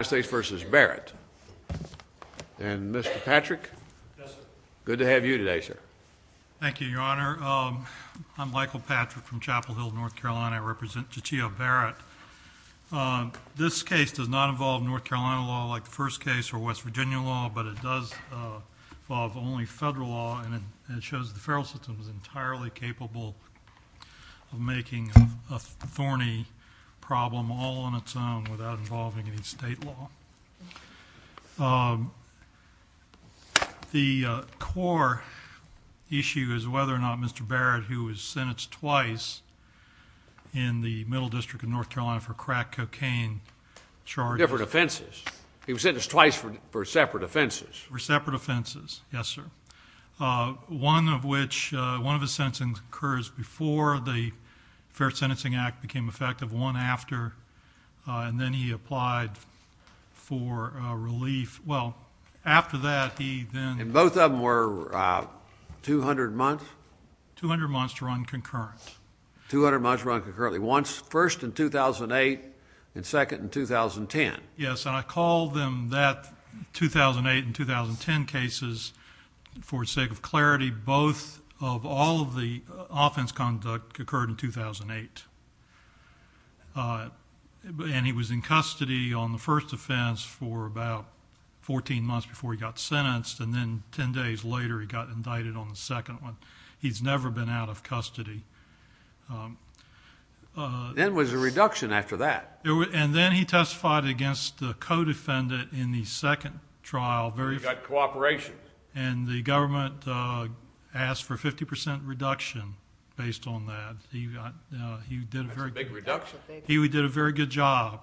and Mr. Patrick, good to have you today sir. Thank you, your honor. I'm Michael Patrick from Chapel Hill, North Carolina. I represent Jatia Barrett. This case does not involve North Carolina law like the first case or West Virginia law, but it does involve only federal law and it shows the federal system is entirely capable of making a thorny problem all on its own without involving any state law. The core issue is whether or not Mr. Barrett, who was sentenced twice in the Middle District of North Carolina for crack cocaine charges. Different offenses. He was sentenced twice for separate offenses. For separate offenses, yes sir. One of which, one of the sentencing occurs before the Fair Sentencing Act became effective, one after, and then he applied for relief. Well, after that he then... And both of them were 200 months? 200 months to run concurrent. 200 months to run concurrently. Once, first in 2008 and second in 2010. Yes, and I called them that 2008 and 2010 cases for sake of clarity. Both of all of the offense conduct occurred in 2008. And he was in custody on the first offense for about 14 months before he got sentenced, and then 10 days later he got indicted on the second one. He's never been out of custody. Then was a reduction after that. And then he testified against the co-defendant in the second trial. You got cooperation. And the big reduction? He did a very good job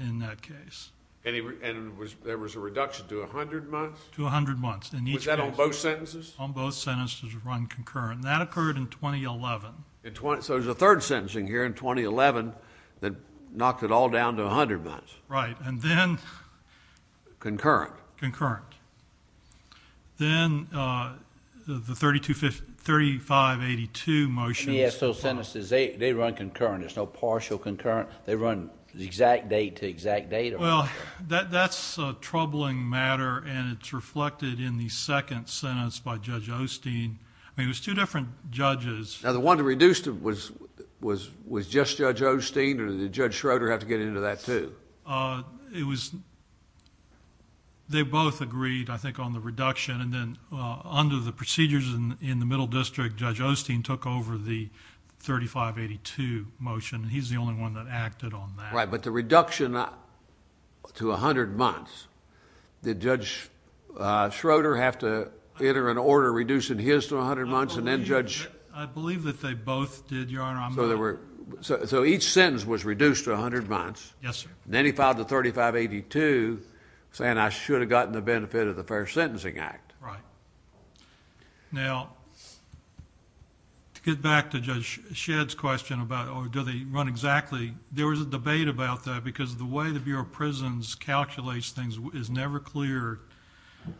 in that case. And there was a reduction to a hundred months? To a hundred months. Was that on both sentences? On both sentences to run concurrent. That occurred in 2011. So there's a third sentencing here in 2011 that knocked it all down to a hundred months. Right. And then... Concurrent. Concurrent. Then the 3582 motion... So sentences, they run concurrent. There's no partial concurrent. They run the exact date to exact date. Well, that's a troubling matter, and it's reflected in the second sentence by Judge Osteen. I mean, it was two different judges. Now, the one that reduced him was just Judge Osteen, or did Judge Schroeder have to get into that, too? It was... they both agreed, I think, on the reduction. And then under the procedures in the Middle District, Judge Osteen took over the 3582 motion, and he's the only one that acted on that. Right. But the reduction to a hundred months, did Judge Schroeder have to enter an order reducing his to a hundred months, and then Judge... I believe that they both did, Your Honor. So there were... so each sentence was reduced to a hundred months. Yes, sir. Then he filed the 3582, saying I should have gotten the benefit of the Fair Sentencing Act. Right. Now, to get back to Judge Shedd's question about, oh, do they run exactly... there was a debate about that, because the way the Bureau of Prisons calculates things is never clear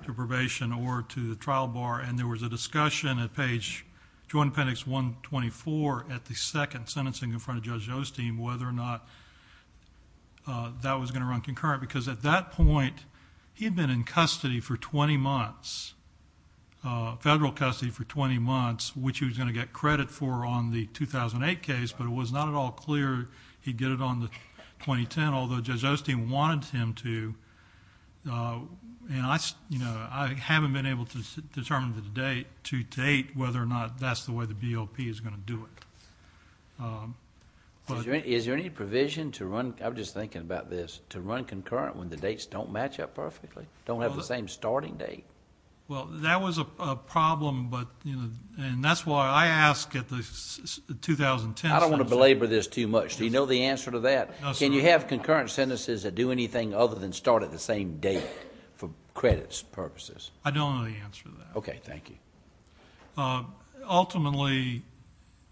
to probation or to the trial bar, and there was a discussion at page... Joint Appendix 124 at the second sentencing in front of Judge Osteen, whether or not that was going to run concurrent, because at that time, he was in federal custody for 20 months, which he was going to get credit for on the 2008 case, but it was not at all clear he'd get it on the 2010, although Judge Osteen wanted him to. I haven't been able to determine the date to date whether or not that's the way the BOP is going to do it. Is there any provision to run... I'm just thinking about this, to run concurrent when the dates don't match up perfectly, don't have the same starting date? Well, that was a problem, and that's why I ask at the 2010... I don't want to belabor this too much. Do you know the answer to that? No, sir. Can you have concurrent sentences that do anything other than start at the same date for credits purposes? I don't know the answer to that. Okay. Thank you. Ultimately,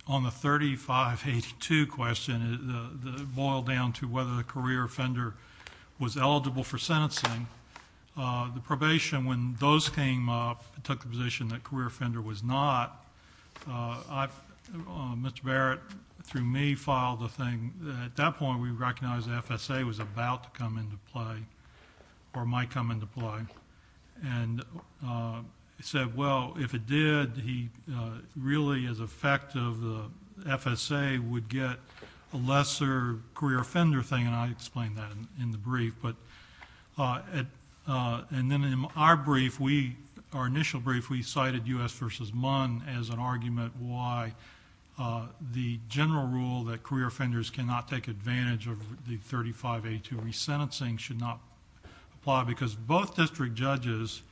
on the 3582 question, it boiled down to whether the career offender was eligible for sentencing. The probation, when those came up, it took the position that career offender was not. Mr. Barrett, through me, filed a thing. At that point, we recognized the FSA was about to come into play, or might come into play. He said, well, if it did, he really as a defect of the FSA would get a lesser career offender thing, and I explained that in the brief. In our brief, our initial brief, we cited U.S. v. Munn as an argument why the general rule that career offenders cannot take advantage of the 3582 resentencing should not apply because both district judges,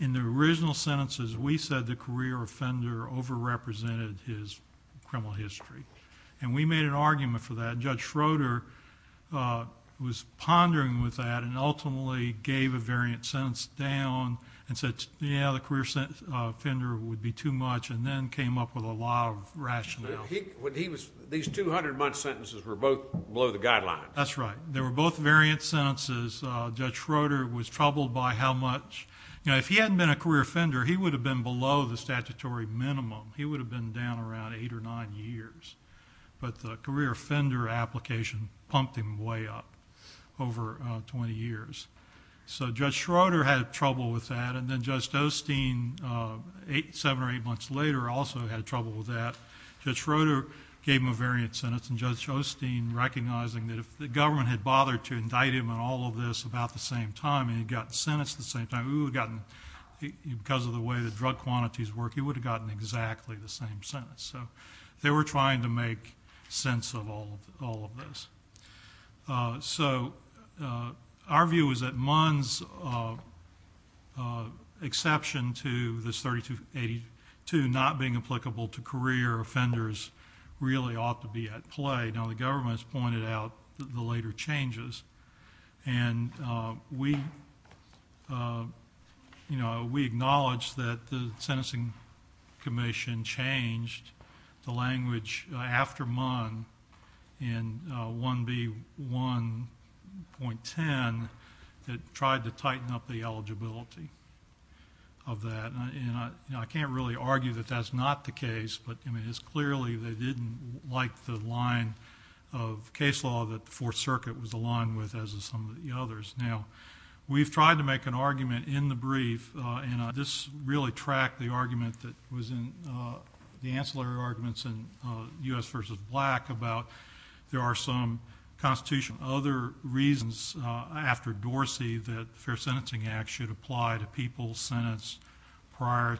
in their original sentences, we said the career offender overrepresented his criminal history. We made an argument for that. Judge Schroeder was pondering with that and ultimately gave a variant sentence down and said, yeah, the career offender would be too much, and then came up with a lot of rationale. These 200-month sentences were both below the guidelines. That's right. They were both variant sentences. Judge Schroeder was troubled by how much... if he hadn't been a career offender, he would have been below the statutory minimum. He would have been down around eight or nine years, but the career offender application pumped him way up over 20 years. Judge Schroeder had trouble with that, and then Judge Dosteen, seven or eight months later, also had trouble with that. Judge Schroeder gave him a variant sentence, and Judge Dosteen, recognizing that if the government had gotten... because of the way the drug quantities work, he would have gotten exactly the same sentence. They were trying to make sense of all of this. Our view is that Munn's exception to this § 3282 not being applicable to career offenders really ought to be at play. Now, the government has pointed out the later changes, and we acknowledge that the Sentencing Commission changed the language after Munn in 1B1.10 that tried to tighten up the eligibility of that. I can't really argue that that's not the case, but it's clearly they didn't like the line of case law that the Fourth Circuit was aligned with, as is some of the others. Now, we've tried to make an argument in the brief, and this really tracked the argument that was in the ancillary arguments in U.S. v. Black about there are some constitutional... other reasons after Dorsey that the Fair Sentencing Act should apply to people... Now,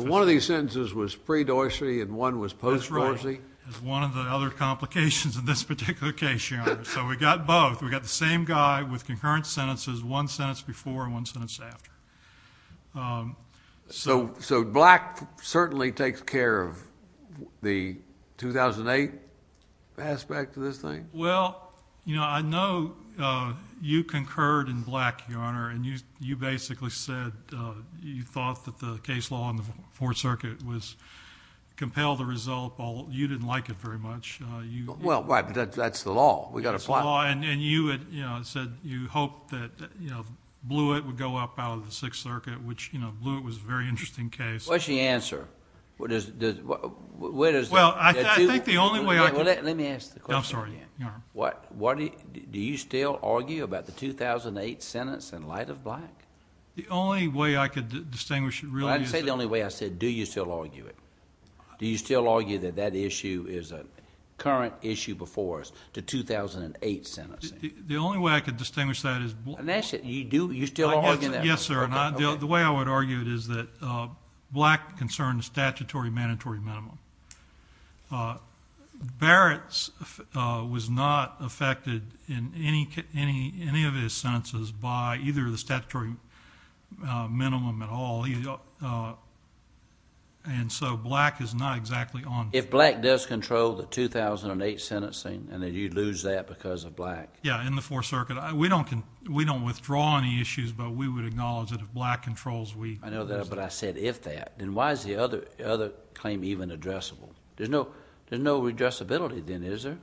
one of these sentences was pre-Dorsey and one was post-Dorsey? That's right. It's one of the other complications in this particular case, Your Honor. So we got both. We got the same guy with concurrent sentences, one sentence before and one sentence after. So Black certainly takes care of the 2008 aspect of this thing? Well, you know, I know you concurred in Black, Your Honor, and you basically said you thought that the case law in the Fourth Circuit was... compelled the result, but you didn't like it very much. Well, that's the law. We've got to apply... That's the law, and you said you hoped that Blewett would go up out of the Sixth Circuit, which Blewett was a very interesting case. What's the answer? Where does the... Well, I think the only way I can... Let me ask the question again. I'm sorry, Your Honor. Do you still argue about the 2008 sentence in light of Black? The only way I could distinguish... I didn't say the only way. I said do you still argue it? Do you still argue that that issue is a current issue before us, the 2008 sentencing? The only way I could distinguish that is... And that's it. Do you still argue that? Yes, sir. The way I would argue it is that Black concerned the statutory mandatory minimum. Barrett was not affected in any of his sentences by either the statutory minimum at all. And so Black is not exactly on... If Black does control the 2008 sentencing, then you'd lose that because of Black. Yeah, in the Fourth Circuit. We don't withdraw any issues, but we would acknowledge that if Black controls, we... I know that, but I said if that. Then why is the other claim even addressable? There's no redressability then, is there?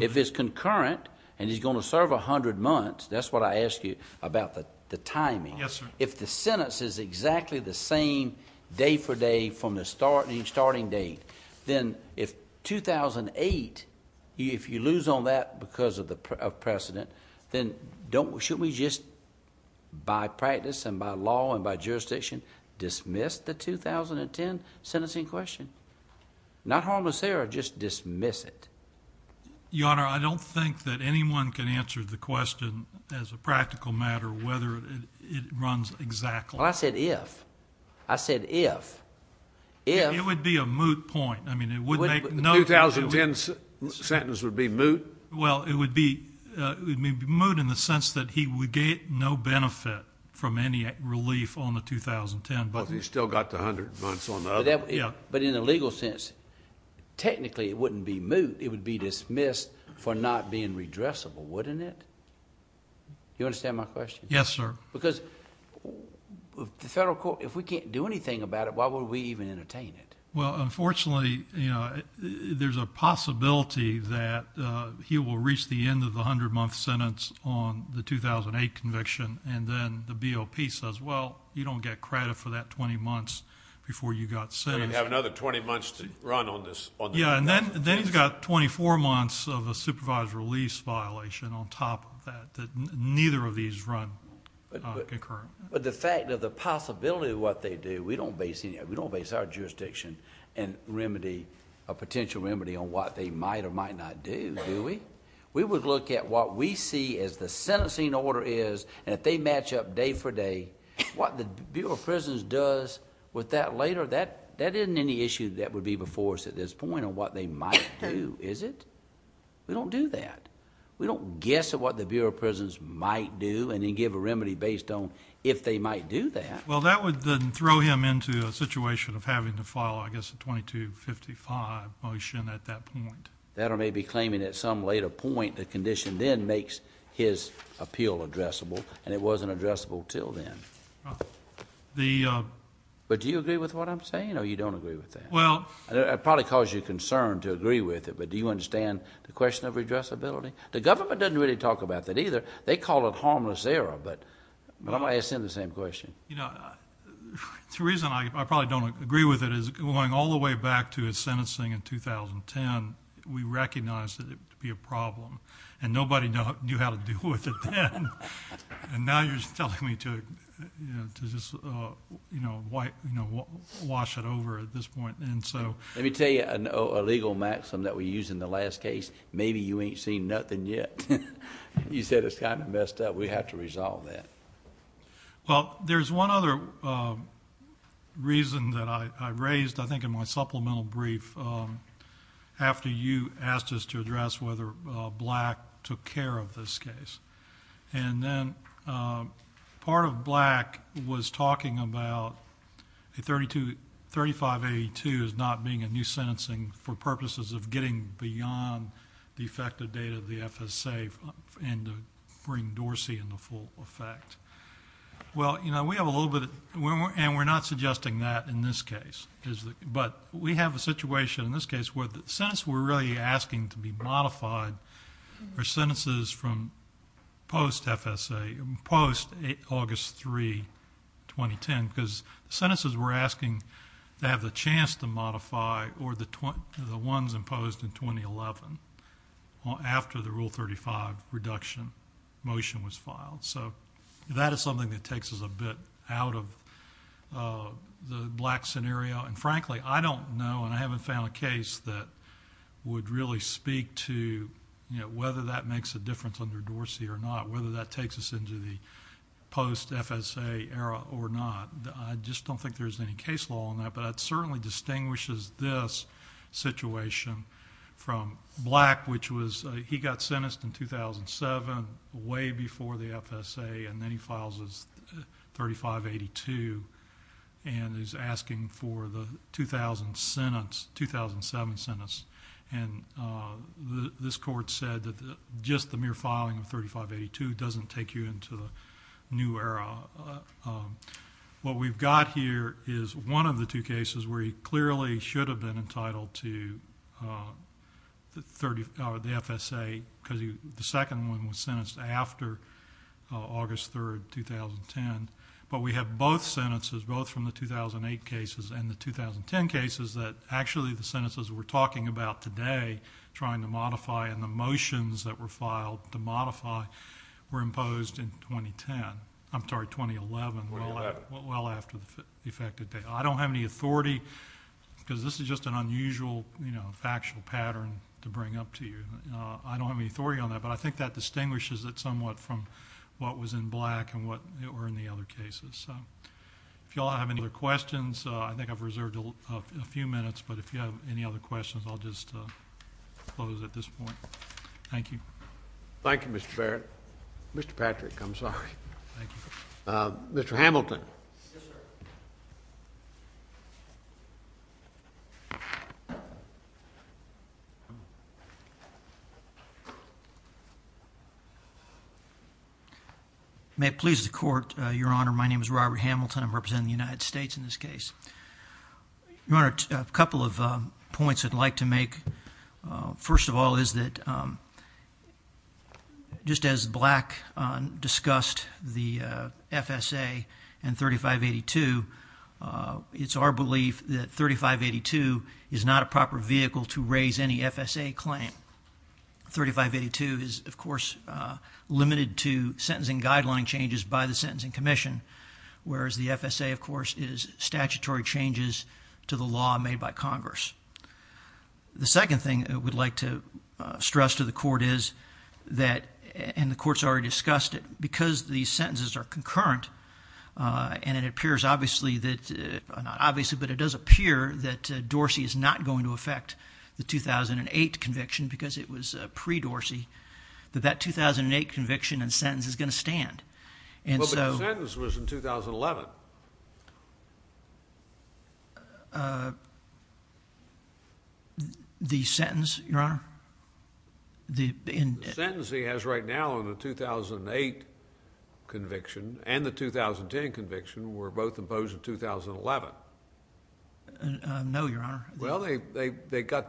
If it's concurrent and he's going to serve 100 months, that's what I ask you about the timing. If the sentence is exactly the same day for day from the starting date, then if 2008... Dismiss the 2010 sentencing question. Not harm us there or just dismiss it. Your Honor, I don't think that anyone can answer the question as a practical matter whether it runs exactly. Well, I said if. I said if. If... It would be a moot point. I mean, it would make no... The 2010 sentence would be moot? Well, it would be moot in the sense that he would gain no benefit from any relief on the 2010. But he still got the 100 months on the other. But in a legal sense, technically it wouldn't be moot. It would be dismissed for not being redressable, wouldn't it? Do you understand my question? Yes, sir. Because if we can't do anything about it, why would we even entertain it? Well, unfortunately, you know, there's a possibility that he will reach the end of the 100-month sentence on the 2008 conviction. And then the BOP says, well, you don't get credit for that 20 months before you got sentenced. You have another 20 months to run on this. Yeah, and then he's got 24 months of a supervised release violation on top of that, that neither of these run concurrent. But the fact of the possibility of what they do, we don't base our jurisdiction on a potential remedy on what they might or might not do, do we? We would look at what we see as the sentencing order is, and if they match up day for day, what the Bureau of Prisons does with that later, that isn't any issue that would be before us at this point on what they might do, is it? We don't do that. We don't guess at what the Bureau of Prisons might do and then give a remedy based on if they might do that. Well, that would then throw him into a situation of having to file, I guess, a 2255 motion at that point. That or maybe claiming at some later point the condition then makes his appeal addressable, and it wasn't addressable until then. But do you agree with what I'm saying, or you don't agree with that? It probably caused you concern to agree with it, but do you understand the question of addressability? The government doesn't really talk about that either. They call it harmless error, but I'm going to ask him the same question. The reason I probably don't agree with it is going all the way back to his sentencing in 2010, we recognized it to be a problem, and nobody knew how to deal with it then. And now you're telling me to just wash it over at this point. Let me tell you a legal maxim that we used in the last case, maybe you ain't seen nothing yet. You said it's kind of messed up. We have to resolve that. Well, there's one other reason that I raised, I think in my supplemental brief, after you asked us to address whether Black took care of this case. And then part of Black was talking about 3582 as not being a new sentencing for purposes of getting beyond the effective date of the FSA and to bring Dorsey into full effect. Well, you know, we have a little bit, and we're not suggesting that in this case, but we have a situation in this case where the sentence we're really asking to be modified are sentences from post-FSA, post-August 3, 2010, because the sentences we're asking to have the chance to modify are the ones imposed in 2011 after the Rule 35 reduction motion was filed. So that is something that takes us a bit out of the Black scenario. And frankly, I don't know, and I haven't found a case that would really speak to, you know, whether that makes a difference under Dorsey or not, whether that takes us into the post-FSA era or not. I just don't think there's any case law on that, but it certainly distinguishes this situation from Black, which was he got sentenced in 2007, way before the FSA, and then he files his 3582, and he's asking for the 2000 sentence, 2007 sentence. And this court said that just the mere filing of 3582 doesn't take you into the new era. What we've got here is one of the two cases where he clearly should have been entitled to the FSA, because the second one was sentenced after August 3, 2010. But we have both sentences, both from the 2008 cases and the 2010 cases, that actually the sentences we're talking about today trying to modify and the motions that were filed to modify were imposed in 2010. I'm sorry, 2011, well after the effective date. I don't have any authority, because this is just an unusual, you know, factual pattern to bring up to you. I don't have any authority on that, but I think that distinguishes it somewhat from what was in Black and what were in the other cases. If you all have any other questions, I think I've reserved a few minutes, but if you have any other questions, I'll just close at this point. Thank you. Thank you, Mr. Barrett. Mr. Patrick, I'm sorry. Thank you. Mr. Hamilton. Yes, sir. May it please the Court, Your Honor. My name is Robert Hamilton. I'm representing the United States in this case. Your Honor, a couple of points I'd like to make. First of all is that just as Black discussed the FSA and 3582, it's our belief that 3582 is not a proper vehicle to raise any FSA claim. 3582 is, of course, limited to sentencing guideline changes by the Sentencing Commission, whereas the FSA, of course, is statutory changes to the law made by Congress. The second thing I would like to stress to the Court is that, and the Court's already discussed it, because these sentences are concurrent, and it appears obviously that, not obviously, but it does appear that Dorsey is not going to affect the 2008 conviction because it was pre-Dorsey, that that 2008 conviction and sentence is going to stand. But the sentence was in 2011. The sentence, Your Honor? The sentence he has right now on the 2008 conviction and the 2010 conviction were both imposed in 2011. No, Your Honor. Well, they got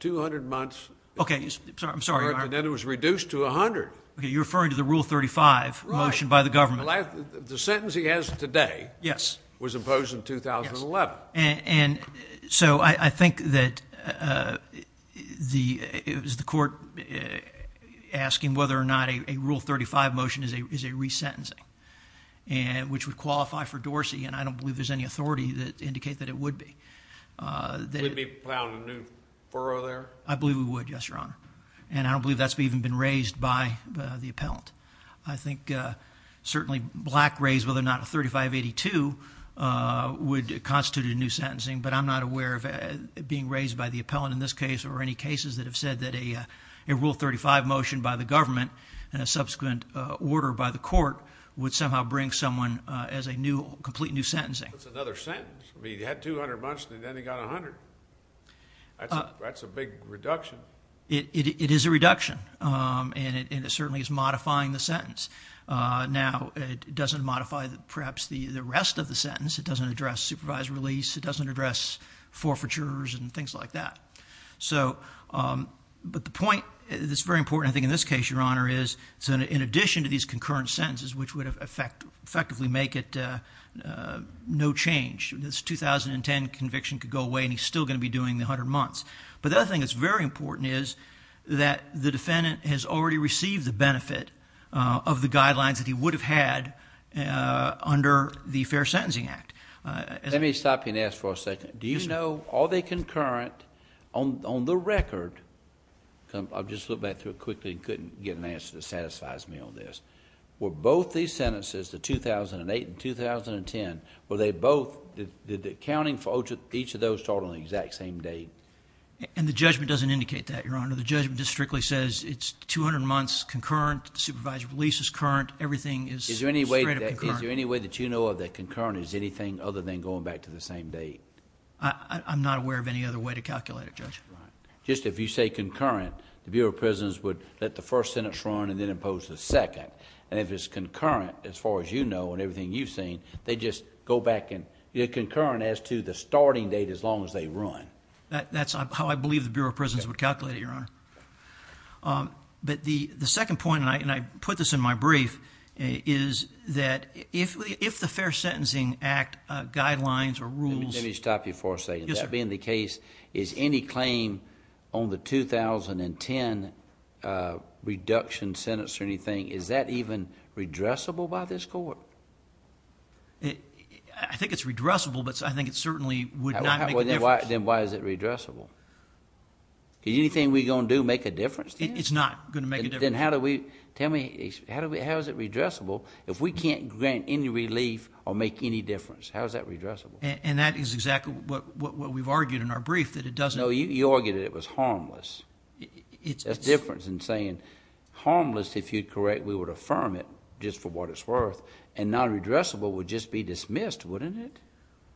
200 months. Okay, I'm sorry, Your Honor. And then it was reduced to 100. Okay, you're referring to the Rule 35 motion by the government. The sentence he has today was imposed in 2011. And so I think that it was the Court asking whether or not a Rule 35 motion is a resentencing, which would qualify for Dorsey, and I don't believe there's any authority to indicate that it would be. Would it be found a new furrow there? I believe it would, yes, Your Honor. And I don't believe that's even been raised by the appellant. I think certainly Black raised whether or not a 3582 would constitute a new sentencing, but I'm not aware of it being raised by the appellant in this case or any cases that have said that a Rule 35 motion by the government and a subsequent order by the Court would somehow bring someone as a new, complete new sentencing. That's another sentence. I mean, he had 200 months and then he got 100. That's a big reduction. It is a reduction. And it certainly is modifying the sentence. Now, it doesn't modify perhaps the rest of the sentence. It doesn't address supervised release. It doesn't address forfeitures and things like that. But the point that's very important, I think, in this case, Your Honor, is in addition to these concurrent sentences, which would effectively make it no change, this 2010 conviction could go away and he's still going to be doing the 100 months. But the other thing that's very important is that the defendant has already received the benefit of the guidelines that he would have had under the Fair Sentencing Act. Let me stop you and ask for a second. Do you know, are they concurrent on the record? I'll just look back through it quickly and couldn't get an answer that satisfies me on this. Were both these sentences, the 2008 and 2010, were they both, did the accounting for each of those start on the exact same date? And the judgment doesn't indicate that, Your Honor. The judgment just strictly says it's 200 months concurrent, supervisory release is current, everything is straight up concurrent. Is there any way that you know of that concurrent is anything other than going back to the same date? I'm not aware of any other way to calculate it, Judge. Just if you say concurrent, the Bureau of Prisons would let the first sentence run and then impose the second. And if it's concurrent, as far as you know, and everything you've seen, they just go back and get concurrent as to the starting date as long as they run. That's how I believe the Bureau of Prisons would calculate it, Your Honor. But the second point, and I put this in my brief, is that if the Fair Sentencing Act guidelines or rules... Let me stop you for a second. That being the case, is any claim on the 2010 reduction sentence or anything, is that even redressable by this court? I think it's redressable, but I think it certainly would not make a difference. Then why is it redressable? Is anything we're going to do make a difference? It's not going to make a difference. Then how is it redressable if we can't grant any relief or make any difference? How is that redressable? And that is exactly what we've argued in our brief. No, you argued it was harmless. That's the difference in saying harmless, if you're correct, we would affirm it just for what it's worth and non-redressable would just be dismissed, wouldn't it?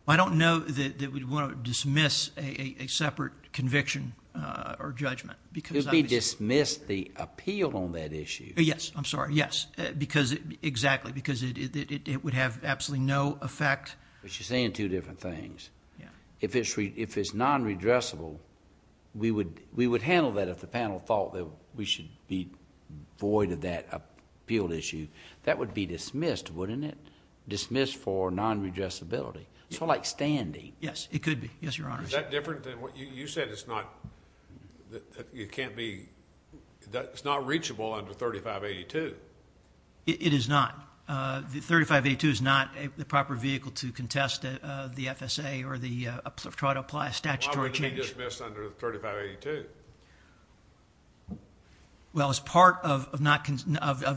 I don't know that we'd want to dismiss a separate conviction or judgment. It would be dismissed the appeal on that issue. Yes, I'm sorry, yes. Because, exactly, it would have absolutely no effect. But you're saying two different things. If it's non-redressable, we would handle that if the panel thought that we should be void of that appeal issue. That would be dismissed, wouldn't it? Dismissed for non-redressability. Sort of like standing. Yes, it could be. Is that different than what you said? It's not reachable under 3582. It is not. 3582 is not the proper vehicle to contest the FSA or try to apply a statutory change. Why would it be dismissed under 3582? Well, as part of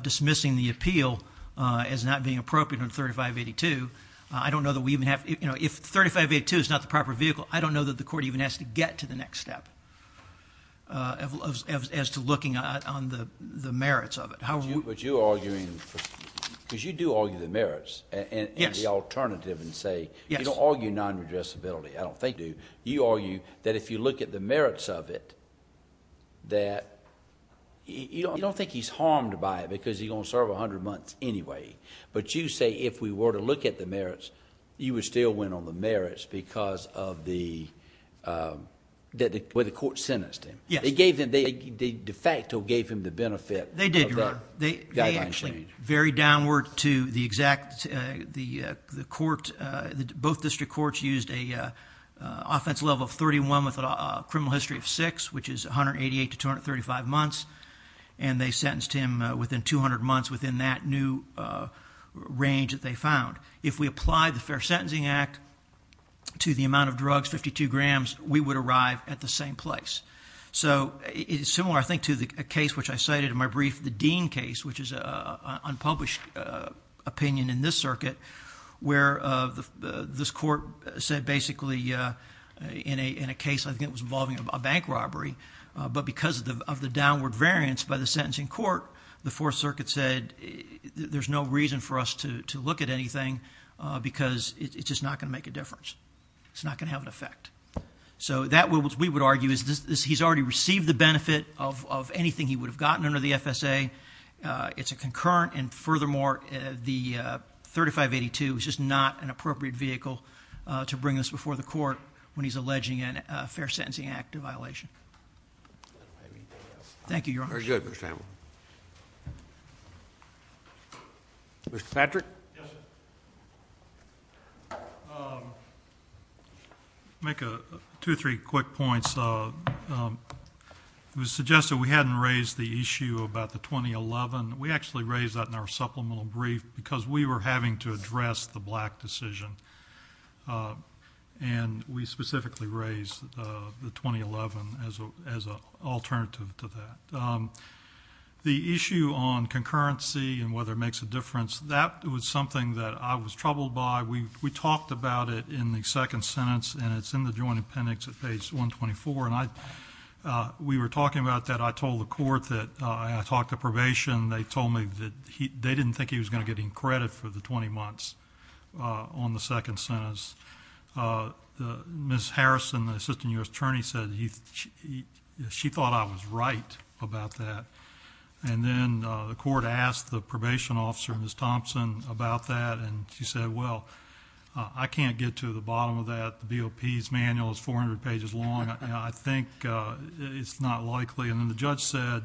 dismissing the appeal as not being appropriate under 3582, if 3582 is not the proper vehicle, I don't know that the court even has to get to the next step as to looking on the merits of it. But you're arguing, because you do argue the merits and the alternative and say, you don't argue non-redressability. You argue that if you look at the merits of it, that you don't think he's harmed by it because he's going to serve 100 months anyway. But you say if we were to look at the merits, you would still win on the merits because of the way the court sentenced him. They de facto gave him the benefit of that guideline change. They actually very downward to the exact, the court, both district courts used an offense level of 31 with a criminal history of 6, which is 188 to 235 months. And they sentenced him within 200 months within that new range that they found. If we apply the Fair Sentencing Act to the amount of drugs, 52 grams, we would arrive at the same place. It's similar, I think, to a case which I cited in my brief, the Dean case, which is an unpublished opinion in this circuit, where this court said basically in a case, I think it was involving a bank robbery, but because of the downward variance by the sentencing court, the Fourth Circuit said there's no reason for us to look at anything because it's just not going to make a difference. It's not going to have an effect. So that, which we would argue, is he's already received the benefit of anything he would have gotten under the FSA. It's a concurrent and furthermore, the 3582 is just not an appropriate vehicle to bring this before the court when he's alleging a Fair Sentencing Act violation. Thank you, Your Honor. Mr. Patrick? I'll make two or three quick points. It was suggested we hadn't raised the issue about the 2011. We actually raised that in our supplemental brief because we were having to address the black decision. And we specifically raised the 2011 as an alternative to that. The issue on concurrency and whether it makes a difference, that was something that I was troubled by. We talked about it in the second sentence, and it's in the Joint Appendix at page 124, and we were talking about that. I told the court that, and I talked to probation, they told me that they didn't think he was going to get any credit for the 20 months on the second sentence. Ms. Harrison, the assistant U.S. attorney, said she thought I was right about that. And then the court asked the probation officer, Ms. Thompson, about that, and she said, well, I can't get to the bottom of that. The BOP's manual is 400 pages long. I think it's not likely. And then the judge said,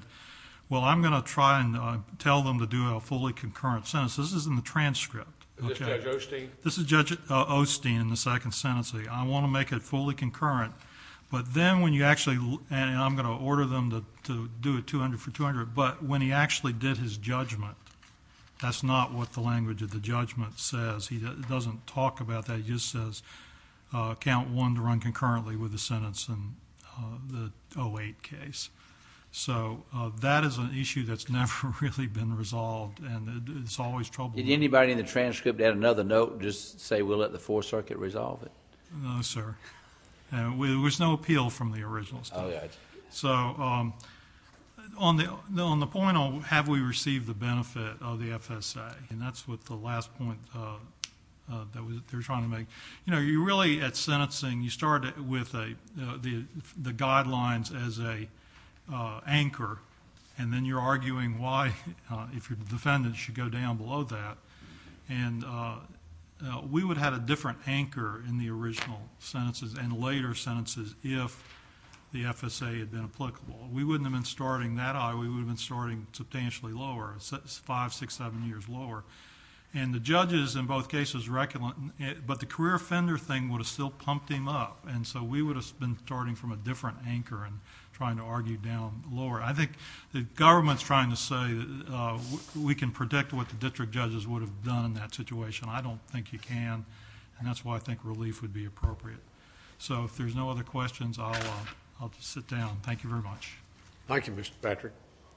well, I'm going to try and tell them to do a fully concurrent sentence. This is in the transcript. Is this Judge Osteen? This is Judge Osteen in the second sentence. I want to make it fully concurrent, but then when you actually, and I'm going to order them to do it 200 for 200, but when he actually did his judgment, that's not what the language of the judgment says. It doesn't talk about that. It just says count one to run concurrently with the sentence in the 08 case. So that is an issue that's never really been resolved, and it's always trouble. Did anybody in the transcript add another note, just say we'll let the Fourth Circuit resolve it? No, sir. There was no appeal from the original staff. So, on the point on have we received the benefit of the FSA, and that's what the last point they were trying to make. You know, you're really, at sentencing, you start with the guidelines as an anchor, and then you're arguing why if your defendant should go down below that, and we would have had a different anchor in the original sentences and later sentences if the FSA had been applicable. We wouldn't have been starting that high. We would have been starting substantially lower, five, six, seven years lower, and the judges in both cases but the career offender thing would have still pumped him up, and so we would have been starting from a different anchor and trying to argue down lower. I think the government's trying to say we can predict what the district judges would have done in that situation. I don't think you can, and that's why I think relief would be appropriate. So, if there's no other questions, I'll just sit down. Thank you very much. Thank you, Mr. Patrick.